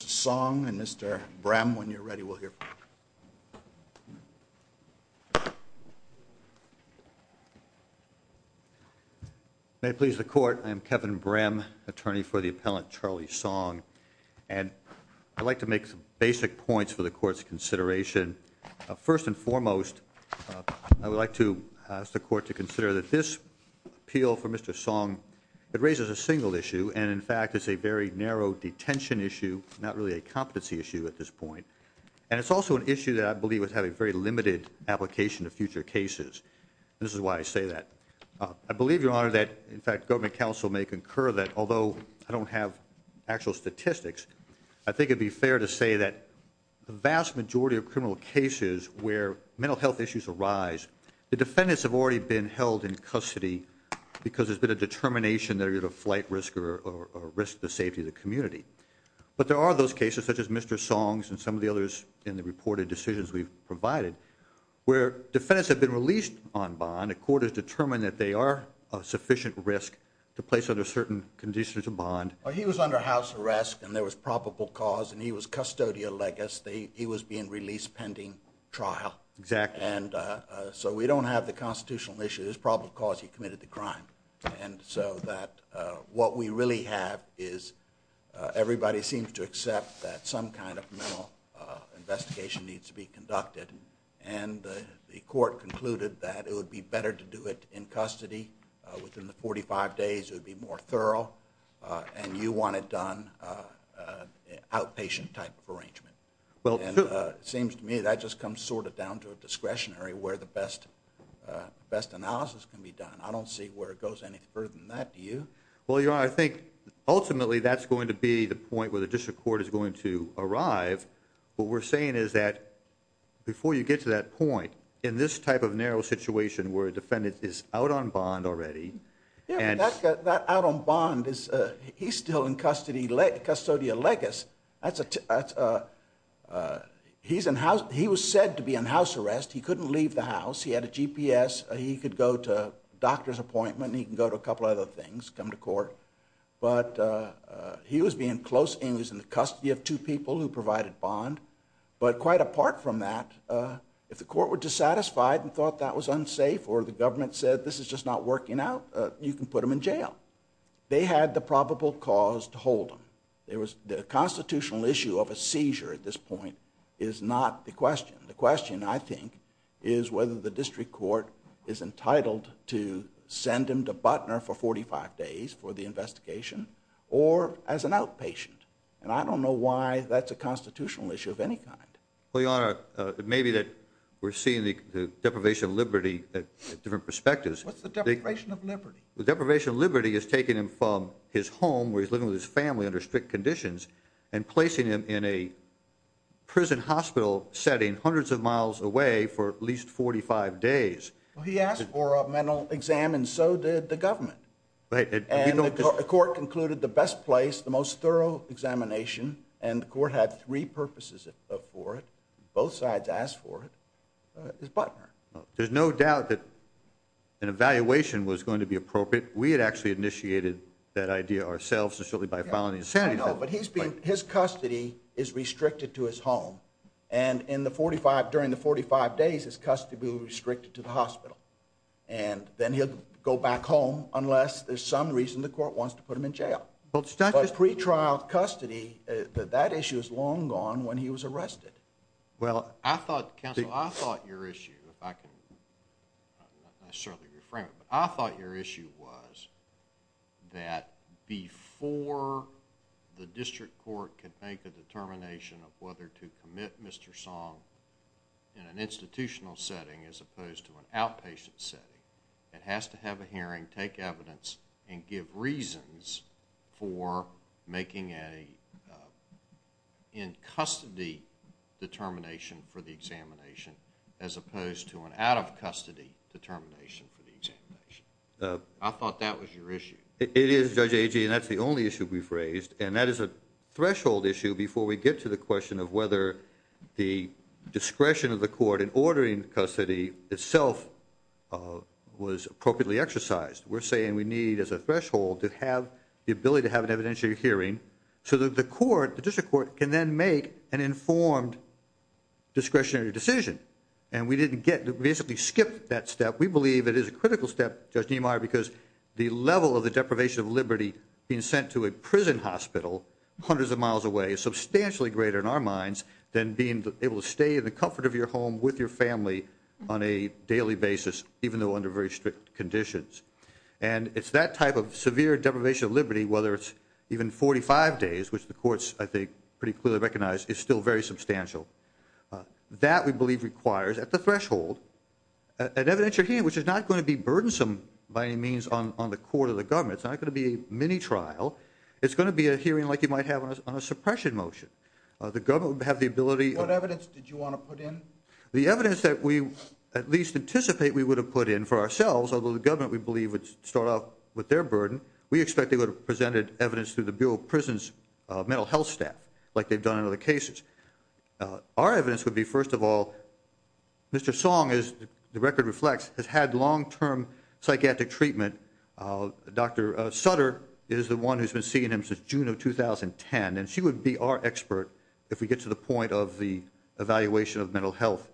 Mr. Song and Mr. Brehm, when you're ready, we'll hear from you. May it please the Court, I am Kevin Brehm, attorney for the appellant, Charlie Song, and I'd like to make some basic points for the Court's consideration. First and foremost, I would like to ask the Court to consider that this appeal for Mr. Song, it raises a single issue, and in fact it's a very narrow detention issue, not really a competency issue at this point. And it's also an issue that I believe would have a very limited application to future cases. This is why I say that. I believe, Your Honor, that in fact government counsel may concur that, although I don't have actual statistics, I think it would be fair to say that the vast majority of criminal cases where mental health issues arise, the defendants have already been held in custody because there's been a determination they're at a flight risk or risk to the safety of the community. But there are those cases, such as Mr. Song's and some of the others in the reported decisions we've provided, where defendants have been released on bond, the Court has determined that they are a sufficient risk to place under certain conditions of bond. He was under house arrest and there was probable cause and he was custodial legacy. He was being released pending trial. Exactly. And so we don't have the constitutional issue. There's probable cause he committed the crime. And so what we really have is everybody seems to accept that some kind of mental investigation needs to be conducted. And the Court concluded that it would be better to do it in custody. Within the 45 days it would be more thorough. And you want it done in an outpatient type of arrangement. Well, true. It seems to me that just comes sort of down to a discretionary where the best analysis can be done. I don't see where it goes any further than that. Do you? Well, Your Honor, I think ultimately that's going to be the point where the District Court is going to arrive. What we're saying is that before you get to that point, in this type of narrow situation where a defendant is out on bond already. Yeah, but that out on bond, he's still in custody, custodial legacy. He was said to be in house arrest. He couldn't leave the house. He had a GPS. He could go to a doctor's appointment. He could go to a couple of other things, come to court. But he was being close and he was in the custody of two people who provided bond. But quite apart from that, if the court were dissatisfied and thought that was unsafe or the government said this is just not working out, you can put him in jail. They had the probable cause to hold him. The constitutional issue of a seizure at this point is not the question. The question, I think, is whether the District Court is entitled to send him to Butner for 45 days for the investigation or as an outpatient. And I don't know why that's a constitutional issue of any kind. Well, Your Honor, maybe that we're seeing the deprivation of liberty at different perspectives. What's the deprivation of liberty? The deprivation of liberty is taking him from his home where he's living with his family under strict conditions and placing him in a prison hospital setting hundreds of miles away for at least 45 days. Well, he asked for a mental exam and so did the government. And the court concluded the best place, the most thorough examination, and the court had three purposes for it. Both sides asked for it. It's Butner. There's no doubt that an evaluation was going to be appropriate. We had actually initiated that idea ourselves and certainly by filing the insanity claim. No, but his custody is restricted to his home. And during the 45 days, his custody will be restricted to the hospital. And then he'll go back home unless there's some reason the court wants to put him in jail. But pre-trial custody, that issue is long gone when he was arrested. Well, I thought, counsel, I thought your issue, if I can necessarily reframe it, but I thought your issue was that before the district court can make a determination of whether to commit Mr. Song in an institutional setting as opposed to an outpatient setting, it has to have a hearing, take evidence, and give reasons for making an in-custody determination for the examination as opposed to an out-of-custody determination for the examination. I thought that was your issue. It is, Judge Agee, and that's the only issue we've raised. And that is a threshold issue before we get to the question of whether the discretion of the court in ordering custody itself was appropriately exercised. We're saying we need as a threshold to have the ability to have an evidentiary hearing so that the court, the district court, can then make an informed discretionary decision. And we didn't get to basically skip that step. We believe it is a critical step, Judge Niemeyer, because the level of the deprivation of liberty being sent to a prison hospital hundreds of miles away is substantially greater, in our minds, than being able to stay in the comfort of your home with your family on a daily basis, even though under very strict conditions. And it's that type of severe deprivation of liberty, whether it's even 45 days, which the courts, I think, pretty clearly recognize, is still very substantial. That, we believe, requires, at the threshold, an evidentiary hearing, which is not going to be burdensome, by any means, on the court or the government. It's not going to be a mini-trial. It's going to be a hearing like you might have on a suppression motion. The government would have the ability of... What evidence did you want to put in? The evidence that we at least anticipate we would have put in for ourselves, although the government, we believe, would start off with their burden, we expect they would have presented evidence through the Bureau of Prisons' mental health staff, like they've done in other cases. Our evidence would be, first of all, Mr. Song, as the record reflects, has had long-term psychiatric treatment. Dr. Sutter is the one who's been seeing him since June of 2010, and she would be our expert if we get to the point of the evaluation of mental health.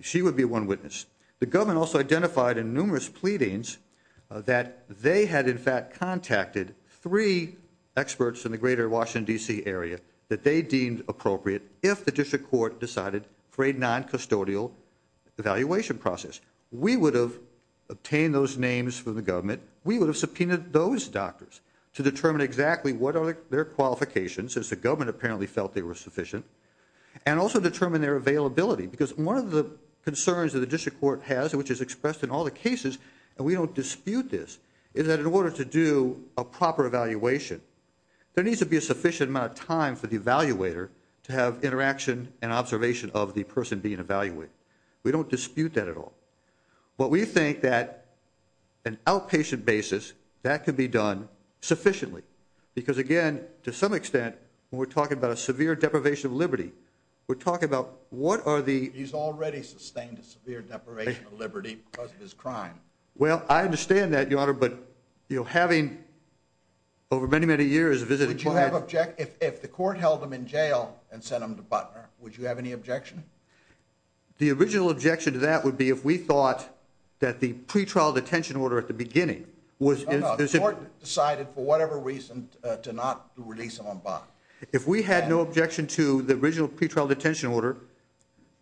She would be one witness. The government also identified in numerous pleadings that they had, in fact, contacted three experts in the greater Washington, D.C. area that they deemed appropriate if the district court decided for a non-custodial evaluation process. We would have obtained those names from the government. We would have subpoenaed those doctors to determine exactly what are their qualifications, since the government apparently felt they were sufficient, and also determine their availability, because one of the concerns that the district court has, which is expressed in all the cases, and we don't dispute this, is that in order to do a proper evaluation, there needs to be a sufficient amount of time for the evaluator to have interaction and observation of the person being evaluated. We don't dispute that at all. But we think that an outpatient basis, that could be done sufficiently, because, again, to some extent, when we're talking about a severe deprivation of liberty, we're talking about what are the... He's already sustained a severe deprivation of liberty because of his crime. Well, I understand that, Your Honor, but having over many, many years visited... If the court held him in jail and sent him to Butner, would you have any objection? The original objection to that would be if we thought that the pretrial detention order at the beginning was... The court decided, for whatever reason, to not release him on bond. If we had no objection to the original pretrial detention order,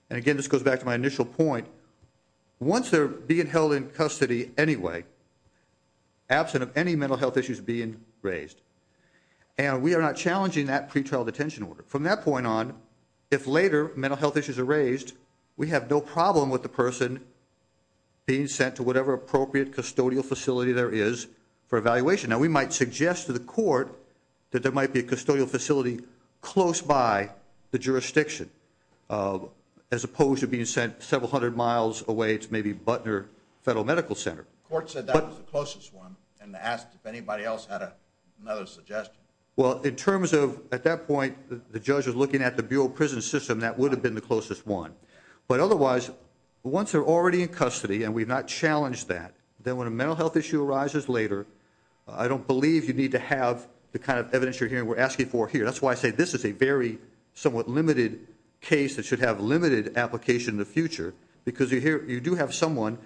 and, again, this goes back to my initial point, once they're being held in custody anyway, absent of any mental health issues being raised, and we are not challenging that pretrial detention order, from that point on, if later mental health issues are raised, we have no problem with the person being sent to whatever appropriate custodial facility there is for evaluation. Now, we might suggest to the court that there might be a custodial facility close by the jurisdiction, as opposed to being sent several hundred miles away to maybe Butner Federal Medical Center. The court said that was the closest one and asked if anybody else had another suggestion. Well, in terms of... At that point, the judge was looking at the Bureau of Prison System. That would have been the closest one. But, otherwise, once they're already in custody and we've not challenged that, then when a mental health issue arises later, I don't believe you need to have the kind of evidence you're hearing. We're asking for here. That's why I say this is a very somewhat limited case that should have limited application in the future because you do have someone,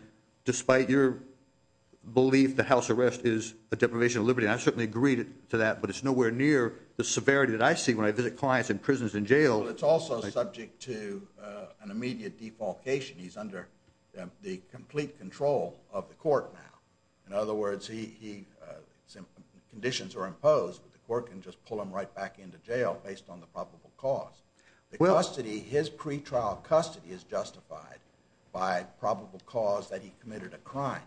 despite your belief the house arrest is a deprivation of liberty, and I certainly agree to that, but it's nowhere near the severity that I see when I visit clients in prisons and jails. Well, it's also subject to an immediate defalcation. He's under the complete control of the court now. In other words, conditions are imposed, but the court can just pull him right back into jail based on the probable cause. His pretrial custody is justified by probable cause that he committed a crime,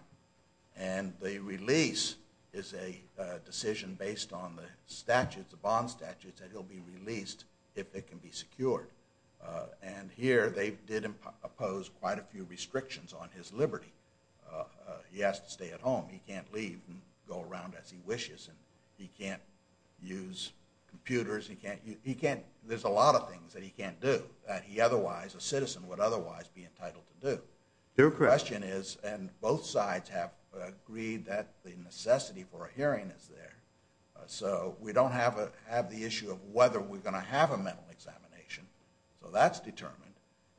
and the release is a decision based on the statute, the bond statute, that he'll be released if it can be secured. And here they did impose quite a few restrictions on his liberty. He has to stay at home. He can't leave and go around as he wishes, and he can't use computers. There's a lot of things that he can't do that he otherwise, a citizen, would otherwise be entitled to do. Their question is, and both sides have agreed that the necessity for a hearing is there, so we don't have the issue of whether we're going to have a mental examination, so that's determined.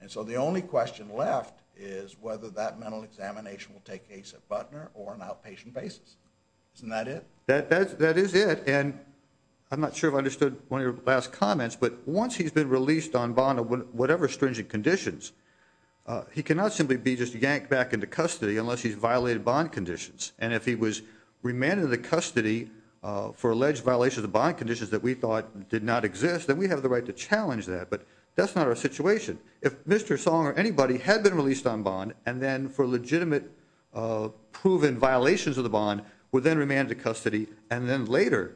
And so the only question left is whether that mental examination will take place at Butner or an outpatient basis. Isn't that it? That is it, and I'm not sure if I understood one of your last comments, but once he's been released on bond or whatever stringent conditions, he cannot simply be just yanked back into custody unless he's violated bond conditions, and if he was remanded into custody for alleged violations of bond conditions that we thought did not exist, then we have the right to challenge that, but that's not our situation. If Mr. Song or anybody had been released on bond and then for legitimate proven violations of the bond, were then remanded to custody and then later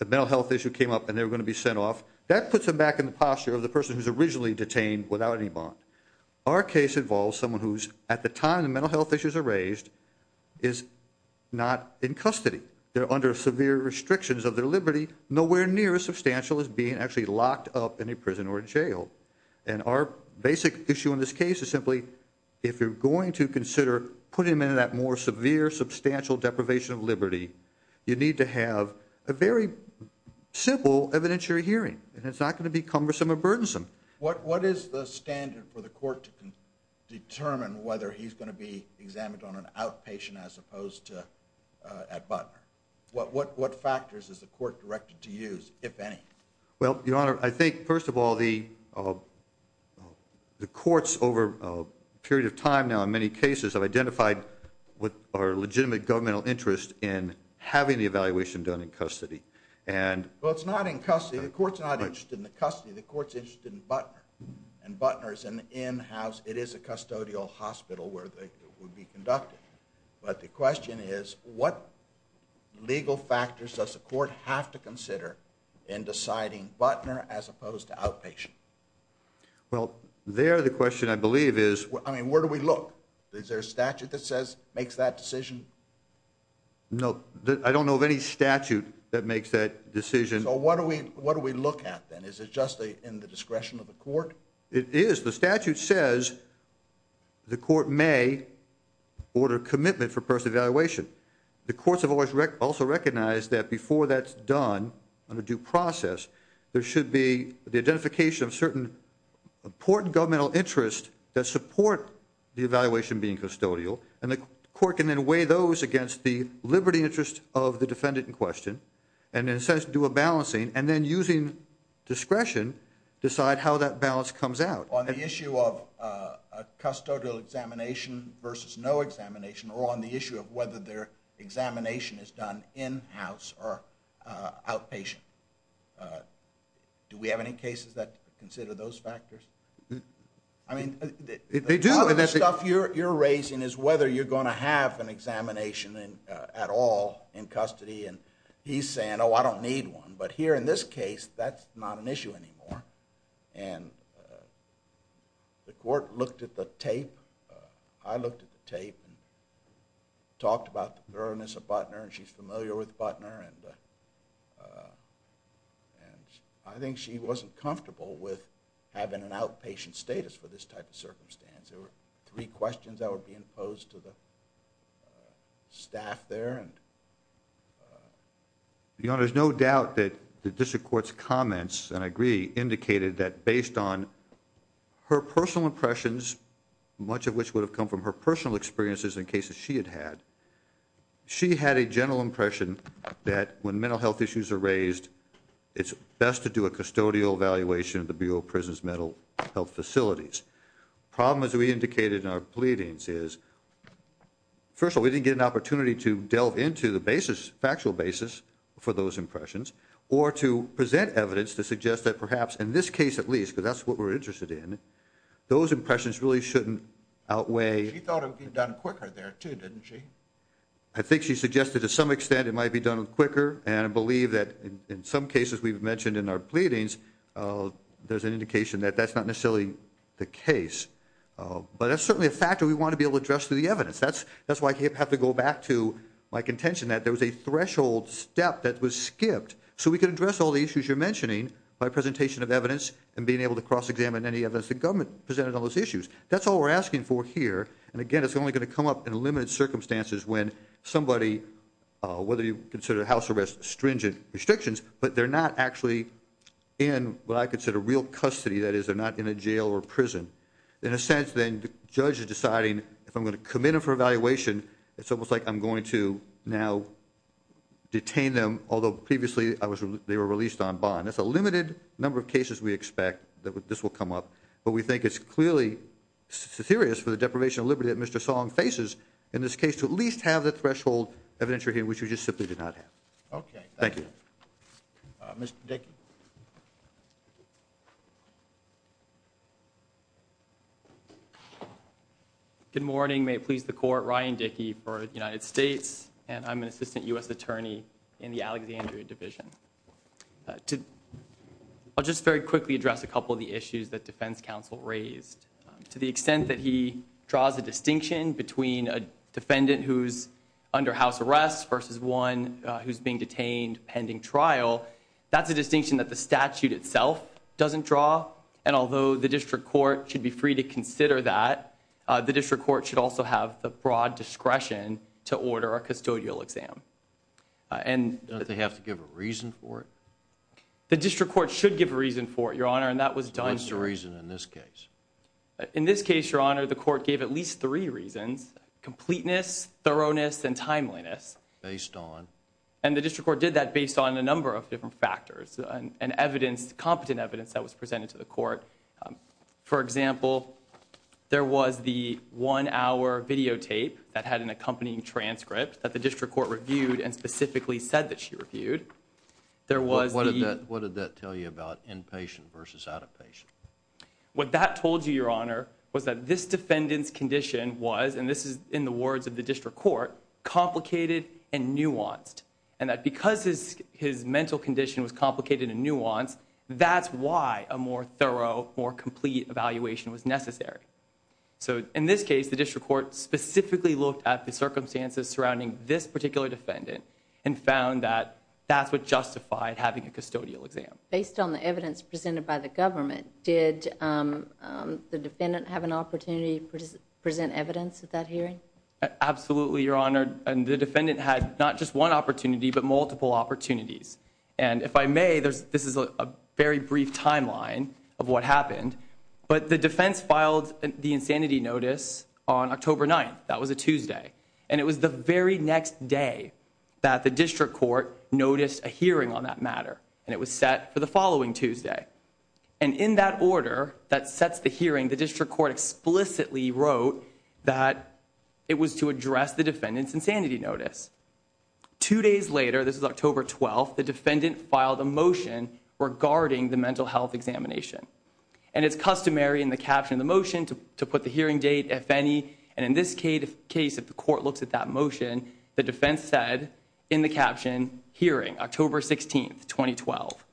a mental health issue came up and they were going to be sent off, that puts them back in the posture of the person who's originally detained without any bond. Our case involves someone who's, at the time the mental health issues are raised, is not in custody. They're under severe restrictions of their liberty, nowhere near as substantial as being actually locked up in a prison or jail, and our basic issue in this case is simply if you're going to consider putting them in that more severe, substantial deprivation of liberty, you need to have a very simple evidentiary hearing, and it's not going to be cumbersome or burdensome. What is the standard for the court to determine whether he's going to be examined on an outpatient as opposed to at Butler? What factors is the court directed to use, if any? Well, Your Honor, I think, first of all, the courts over a period of time now, in many cases, have identified our legitimate governmental interest in having the evaluation done in custody. Well, it's not in custody. The court's not interested in the custody. The court's interested in Butler, and Butler is an in-house, it is a custodial hospital where they would be conducted, but the question is what legal factors does the court have to consider in deciding Butler as opposed to outpatient? Well, there the question, I believe, is... I mean, where do we look? Is there a statute that says, makes that decision? No, I don't know of any statute that makes that decision. So what do we look at, then? Is it just in the discretion of the court? It is. The statute says the court may order commitment for personal evaluation. The courts have also recognized that before that's done under due process, there should be the identification of certain important governmental interests that support the evaluation being custodial, and the court can then weigh those against the liberty interest of the defendant in question, and in a sense, do a balancing, and then using discretion, decide how that balance comes out. On the issue of a custodial examination versus no examination, or on the issue of whether their examination is done in-house or outpatient, do we have any cases that consider those factors? I mean... They do. Part of the stuff you're raising is whether you're going to have an examination at all in custody, and he's saying, oh, I don't need one. But here in this case, that's not an issue anymore. And the court looked at the tape. I looked at the tape and talked about the thoroughness of Butner, and she's familiar with Butner, and I think she wasn't comfortable with having an outpatient status for this type of circumstance. There were three questions that were being posed to the staff there. Your Honor, there's no doubt that the district court's comments, and I agree, indicated that based on her personal impressions, much of which would have come from her personal experiences in cases she had had, she had a general impression that when mental health issues are raised, it's best to do a custodial evaluation at the Bureau of Prison's mental health facilities. The problem, as we indicated in our pleadings, is, first of all, we didn't get an opportunity to delve into the factual basis for those impressions or to present evidence to suggest that perhaps in this case at least, because that's what we're interested in, those impressions really shouldn't outweigh... She thought it would be done quicker there too, didn't she? I think she suggested to some extent it might be done quicker, and I believe that in some cases we've mentioned in our pleadings, there's an indication that that's not necessarily the case. But that's certainly a factor we want to be able to address through the evidence. That's why I have to go back to my contention that there was a threshold step that was skipped so we could address all the issues you're mentioning by presentation of evidence and being able to cross-examine any evidence the government presented on those issues. That's all we're asking for here, and again, it's only going to come up in limited circumstances when somebody, whether you consider house arrest stringent restrictions, but they're not actually in what I consider real custody. That is, they're not in a jail or prison. In a sense, then, the judge is deciding if I'm going to commit him for evaluation, it's almost like I'm going to now detain them, although previously they were released on bond. That's a limited number of cases we expect that this will come up, but we think it's clearly serious for the deprivation of liberty that Mr. Song faces in this case to at least have the threshold evidentiary hearing, which we just simply did not have. Okay, thank you. Mr. Dickey. Good morning. May it please the Court, Ryan Dickey for the United States, and I'm an assistant U.S. attorney in the Alexandria Division. I'll just very quickly address a couple of the issues that defense counsel raised. To the extent that he draws a distinction between a defendant who's under house arrest versus one who's being detained pending trial, that's a distinction that the statute itself doesn't draw, and although the district court should be free to consider that, the district court should also have the broad discretion to order a custodial exam. Don't they have to give a reason for it? The district court should give a reason for it, Your Honor, and that was done. What's the reason in this case? In this case, Your Honor, the court gave at least three reasons, completeness, thoroughness, and timeliness. Based on? And the district court did that based on a number of different factors and evidence, competent evidence that was presented to the court. For example, there was the one-hour videotape that had an accompanying transcript that the district court reviewed and specifically said that she reviewed. What did that tell you about inpatient versus outpatient? What that told you, Your Honor, was that this defendant's condition was, and this is in the words of the district court, complicated and nuanced, and that because his mental condition was complicated and nuanced, that's why a more thorough, more complete evaluation was necessary. So in this case, the district court specifically looked at the circumstances surrounding this particular defendant and found that that's what justified having a custodial exam. Based on the evidence presented by the government, did the defendant have an opportunity to present evidence at that hearing? Absolutely, Your Honor. And the defendant had not just one opportunity but multiple opportunities. And if I may, this is a very brief timeline of what happened, but the defense filed the insanity notice on October 9th. That was a Tuesday. And it was the very next day that the district court noticed a hearing on that matter, and it was set for the following Tuesday. And in that order that sets the hearing, the district court explicitly wrote that it was to address the defendant's insanity notice. Two days later, this is October 12th, the defendant filed a motion regarding the mental health examination. And it's customary in the caption of the motion to put the hearing date, if any, and in this case, if the court looks at that motion, the defense said in the caption, hearing, October 16th, 2012.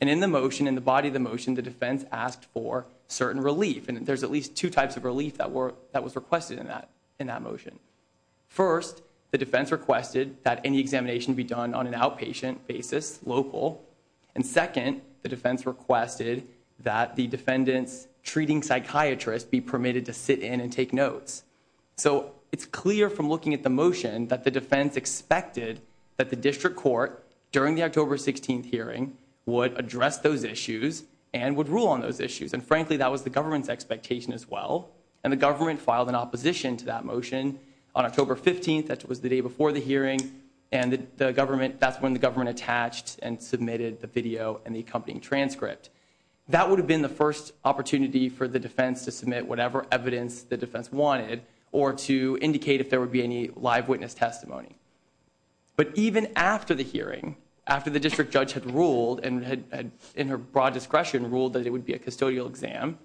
And in the motion, in the body of the motion, the defense asked for certain relief. And there's at least two types of relief that was requested in that motion. First, the defense requested that any examination be done on an outpatient basis, local. And second, the defense requested that the defendant's treating psychiatrist be permitted to sit in and take notes. So it's clear from looking at the motion that the defense expected that the district court, during the October 16th hearing, would address those issues and would rule on those issues. And frankly, that was the government's expectation as well. And the government filed an opposition to that motion on October 15th. That was the day before the hearing. And that's when the government attached and submitted the video and the accompanying transcript. That would have been the first opportunity for the defense to submit whatever evidence the defense wanted or to indicate if there would be any live witness testimony. But even after the hearing, after the district judge had ruled, and in her broad discretion ruled that it would be a custodial exam,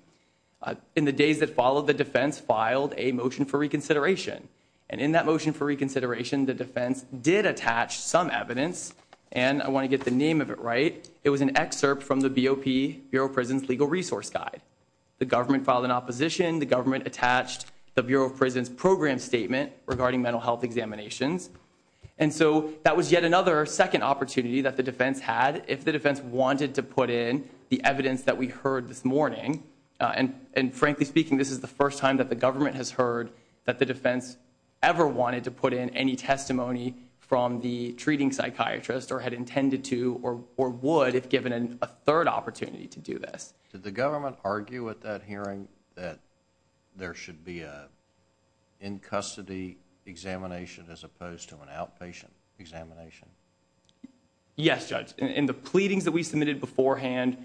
in the days that followed, the defense filed a motion for reconsideration. And in that motion for reconsideration, the defense did attach some evidence. And I want to get the name of it right. It was an excerpt from the BOP, Bureau of Prisons Legal Resource Guide. The government filed an opposition. The government attached the Bureau of Prisons Program Statement regarding mental health examinations. And so that was yet another second opportunity that the defense had, if the defense wanted to put in the evidence that we heard this morning. And frankly speaking, this is the first time that the government has heard that the defense ever wanted to put in any testimony from the treating psychiatrist or had intended to or would if given a third opportunity to do this. Did the government argue at that hearing that there should be an in-custody examination as opposed to an outpatient examination? Yes, Judge. In the pleadings that we submitted beforehand,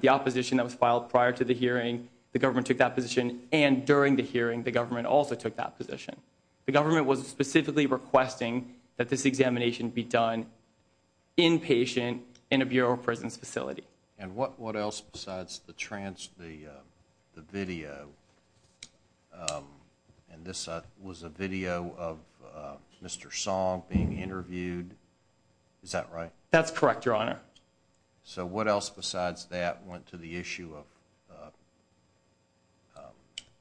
the opposition that was filed prior to the hearing, the government took that position. And during the hearing, the government also took that position. The government was specifically requesting that this examination be done inpatient in a Bureau of Prisons facility. And what else besides the video? And this was a video of Mr. Song being interviewed. Is that right? That's correct, Your Honor. So what else besides that went to the issue of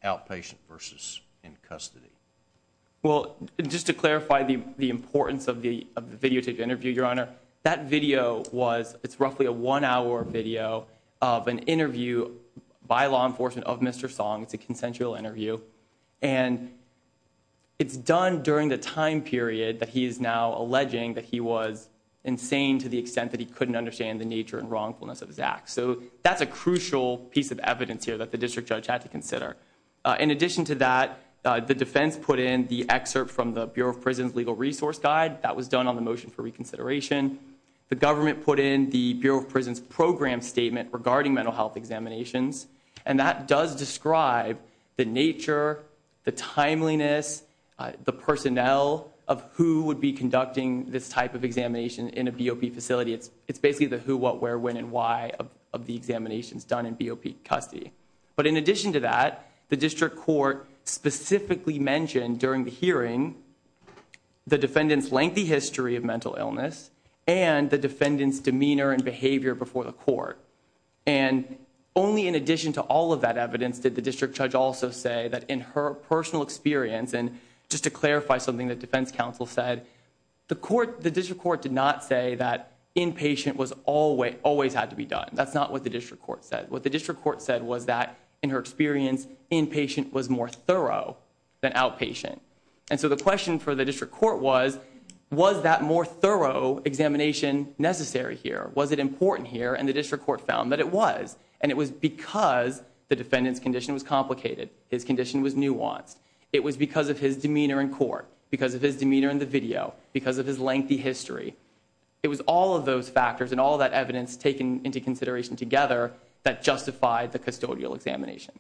outpatient versus in custody? Well, just to clarify the importance of the videotape interview, Your Honor, that video was roughly a one-hour video of an interview by law enforcement of Mr. Song. It's a consensual interview. And it's done during the time period that he is now alleging that he was insane to the extent that he couldn't understand the nature and wrongfulness of his acts. So that's a crucial piece of evidence here that the district judge had to consider. In addition to that, the defense put in the excerpt from the Bureau of Prisons Legal Resource Guide. That was done on the motion for reconsideration. The government put in the Bureau of Prisons Program Statement regarding mental health examinations. And that does describe the nature, the timeliness, the personnel of who would be conducting this type of examination in a BOP facility. It's basically the who, what, where, when, and why of the examinations done in BOP custody. But in addition to that, the district court specifically mentioned during the hearing the defendant's lengthy history of mental illness and the defendant's demeanor and behavior before the court. And only in addition to all of that evidence did the district judge also say that in her personal experience, and just to clarify something the defense counsel said, the district court did not say that inpatient always had to be done. That's not what the district court said. What the district court said was that, in her experience, inpatient was more thorough than outpatient. And so the question for the district court was, was that more thorough examination necessary here? Was it important here? And the district court found that it was. And it was because the defendant's condition was complicated. His condition was nuanced. It was because of his demeanor in court, because of his demeanor in the video, because of his lengthy history. It was all of those factors and all of that evidence taken into consideration together that justified the custodial examination.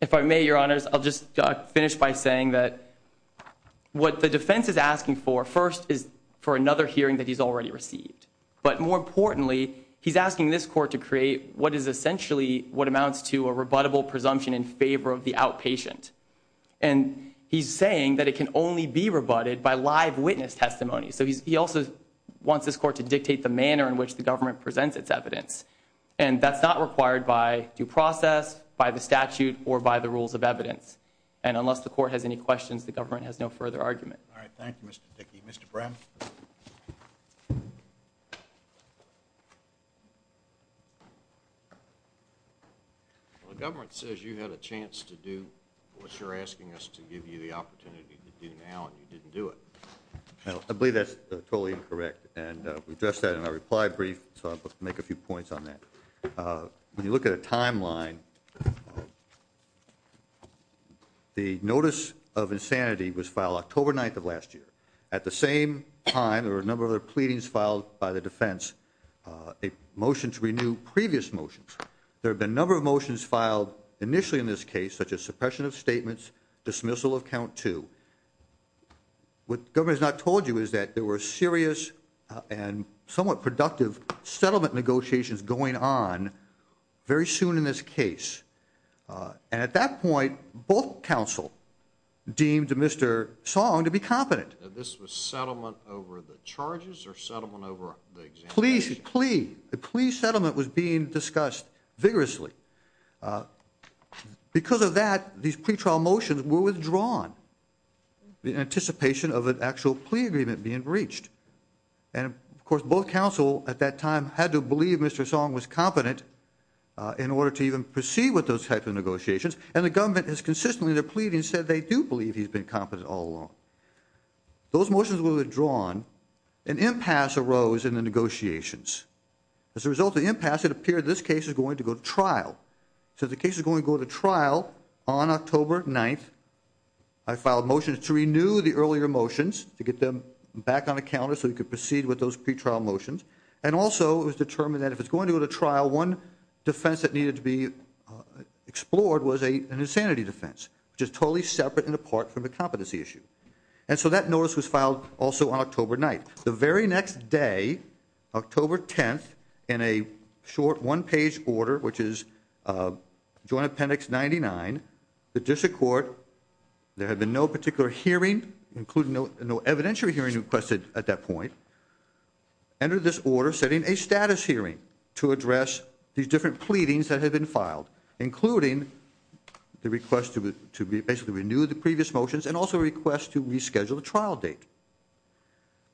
If I may, Your Honors, I'll just finish by saying that what the defense is asking for first is for another hearing that he's already received. But more importantly, he's asking this court to create what is essentially what amounts to a rebuttable presumption in favor of the outpatient. And he's saying that it can only be rebutted by live witness testimony. So he also wants this court to dictate the manner in which the government presents its evidence. And that's not required by due process, by the statute, or by the rules of evidence. And unless the court has any questions, the government has no further argument. All right, thank you, Mr. Dickey. Mr. Brown? The government says you had a chance to do what you're asking us to give you the opportunity to do now, and you didn't do it. I believe that's totally incorrect. And we addressed that in our reply brief, so I'll make a few points on that. When you look at a timeline, the notice of insanity was filed October 9th of last year. At the same time, there were a number of other pleadings filed by the defense, a motion to renew previous motions. There have been a number of motions filed initially in this case, such as suppression of statements, dismissal of count two. What the government has not told you is that there were serious and somewhat productive settlement negotiations going on very soon in this case. And at that point, both counsel deemed Mr. Song to be competent. This was settlement over the charges or settlement over the examination? A plea settlement was being discussed vigorously. Because of that, these pretrial motions were withdrawn in anticipation of an actual plea agreement being reached. And, of course, both counsel at that time had to believe Mr. Song was competent in order to even proceed with those types of negotiations, and the government has consistently, in their pleadings, said they do believe he's been competent all along. Those motions were withdrawn. An impasse arose in the negotiations. As a result of the impasse, it appeared this case is going to go to trial. So the case is going to go to trial on October 9th. I filed motions to renew the earlier motions to get them back on the calendar so we could proceed with those pretrial motions. And also it was determined that if it's going to go to trial, one defense that needed to be explored was an insanity defense, which is totally separate and apart from the competency issue. And so that notice was filed also on October 9th. The very next day, October 10th, in a short one-page order, which is Joint Appendix 99, the district court, there had been no particular hearing, including no evidentiary hearing requested at that point, entered this order setting a status hearing to address these different pleadings that had been filed, including the request to basically renew the previous motions and also a request to reschedule the trial date.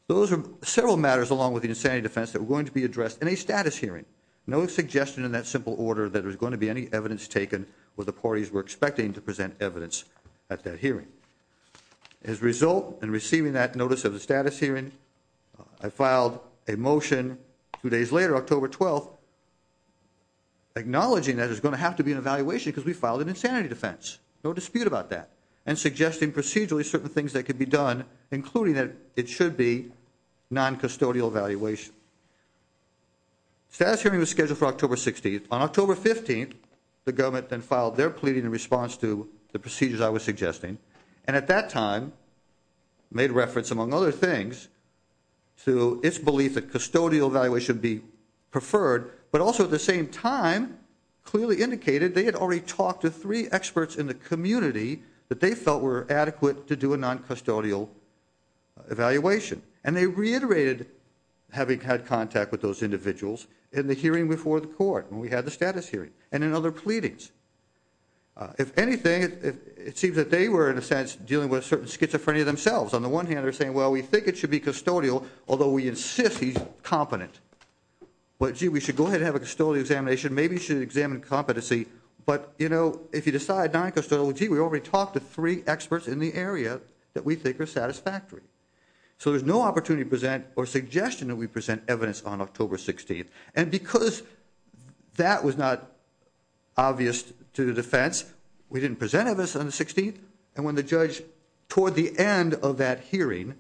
Those are several matters along with the insanity defense that were going to be addressed in a status hearing. No suggestion in that simple order that there was going to be any evidence taken where the parties were expecting to present evidence at that hearing. As a result, in receiving that notice of the status hearing, I filed a motion two days later, October 12th, acknowledging that there's going to have to be an evaluation because we filed an insanity defense. No dispute about that. And suggesting procedurally certain things that could be done, including that it should be noncustodial evaluation. The status hearing was scheduled for October 16th. On October 15th, the government then filed their pleading in response to the procedures I was suggesting. And at that time, made reference, among other things, to its belief that custodial evaluation be preferred, but also at the same time, clearly indicated they had already talked to three experts in the community that they felt were adequate to do a noncustodial evaluation. And they reiterated having had contact with those individuals in the hearing before the court, when we had the status hearing, and in other pleadings. If anything, it seems that they were, in a sense, dealing with a certain schizophrenia themselves. On the one hand, they're saying, well, we think it should be custodial, although we insist he's competent. Well, gee, we should go ahead and have a custodial examination. Maybe you should examine competency. But, you know, if you decide noncustodial, well, gee, we already talked to three experts in the area that we think are satisfactory. So there's no opportunity to present or suggestion that we present evidence on October 16th. And because that was not obvious to the defense, we didn't present evidence on the 16th. And when the judge, toward the end of that hearing,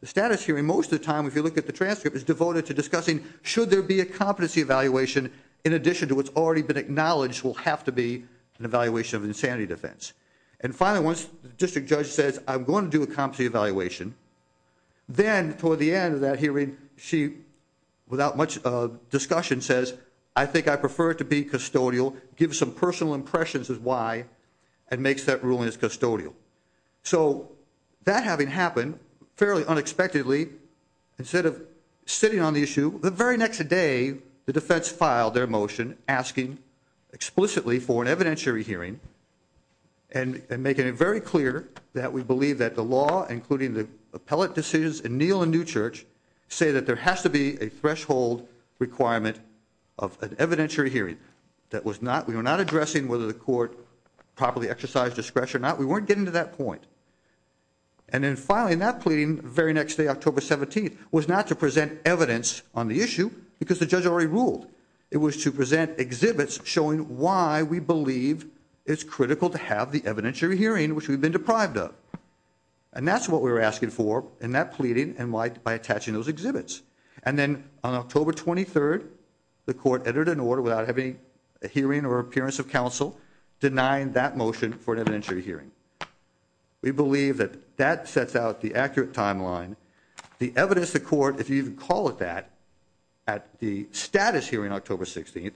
the status hearing, most of the time, if you look at the transcript, is devoted to discussing should there be a competency evaluation, in addition to what's already been acknowledged will have to be an evaluation of insanity defense. And finally, once the district judge says, I'm going to do a competency evaluation, then toward the end of that hearing, she, without much discussion, says, I think I prefer to be custodial, gives some personal impressions as why, and makes that ruling as custodial. So that having happened, fairly unexpectedly, instead of sitting on the issue, the very next day the defense filed their motion asking explicitly for an evidentiary hearing and making it very clear that we believe that the law, including the appellate decisions in Neal and Newchurch, say that there has to be a threshold requirement of an evidentiary hearing. We were not addressing whether the court properly exercised discretion or not. We weren't getting to that point. And then finally, in that pleading, the very next day, October 17th, was not to present evidence on the issue because the judge already ruled. It was to present exhibits showing why we believe it's critical to have the evidentiary hearing, which we've been deprived of. And that's what we were asking for in that pleading and by attaching those exhibits. And then on October 23rd, the court entered an order without having a hearing or appearance of counsel denying that motion for an evidentiary hearing. We believe that that sets out the accurate timeline. The evidence the court, if you even call it that, at the status hearing October 16th,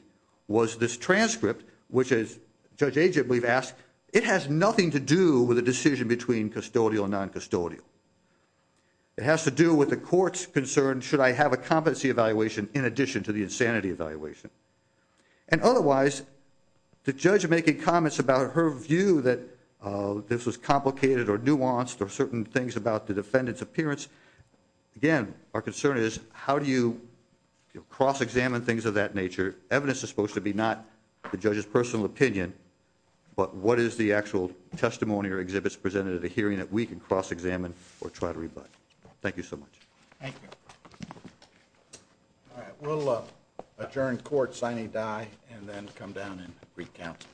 was this transcript, which, as Judge Agent, we've asked, it has nothing to do with a decision between custodial and non-custodial. It has to do with the court's concern, should I have a competency evaluation in addition to the insanity evaluation? And otherwise, the judge making comments about her view that this was complicated or nuanced or certain things about the defendant's appearance, again, our concern is, how do you cross-examine things of that nature? Evidence is supposed to be not the judge's personal opinion, but what is the actual testimony or exhibits presented at a hearing that we can cross-examine or try to rebut? Thank you so much. Thank you. All right, we'll adjourn court signing die and then come down and recount.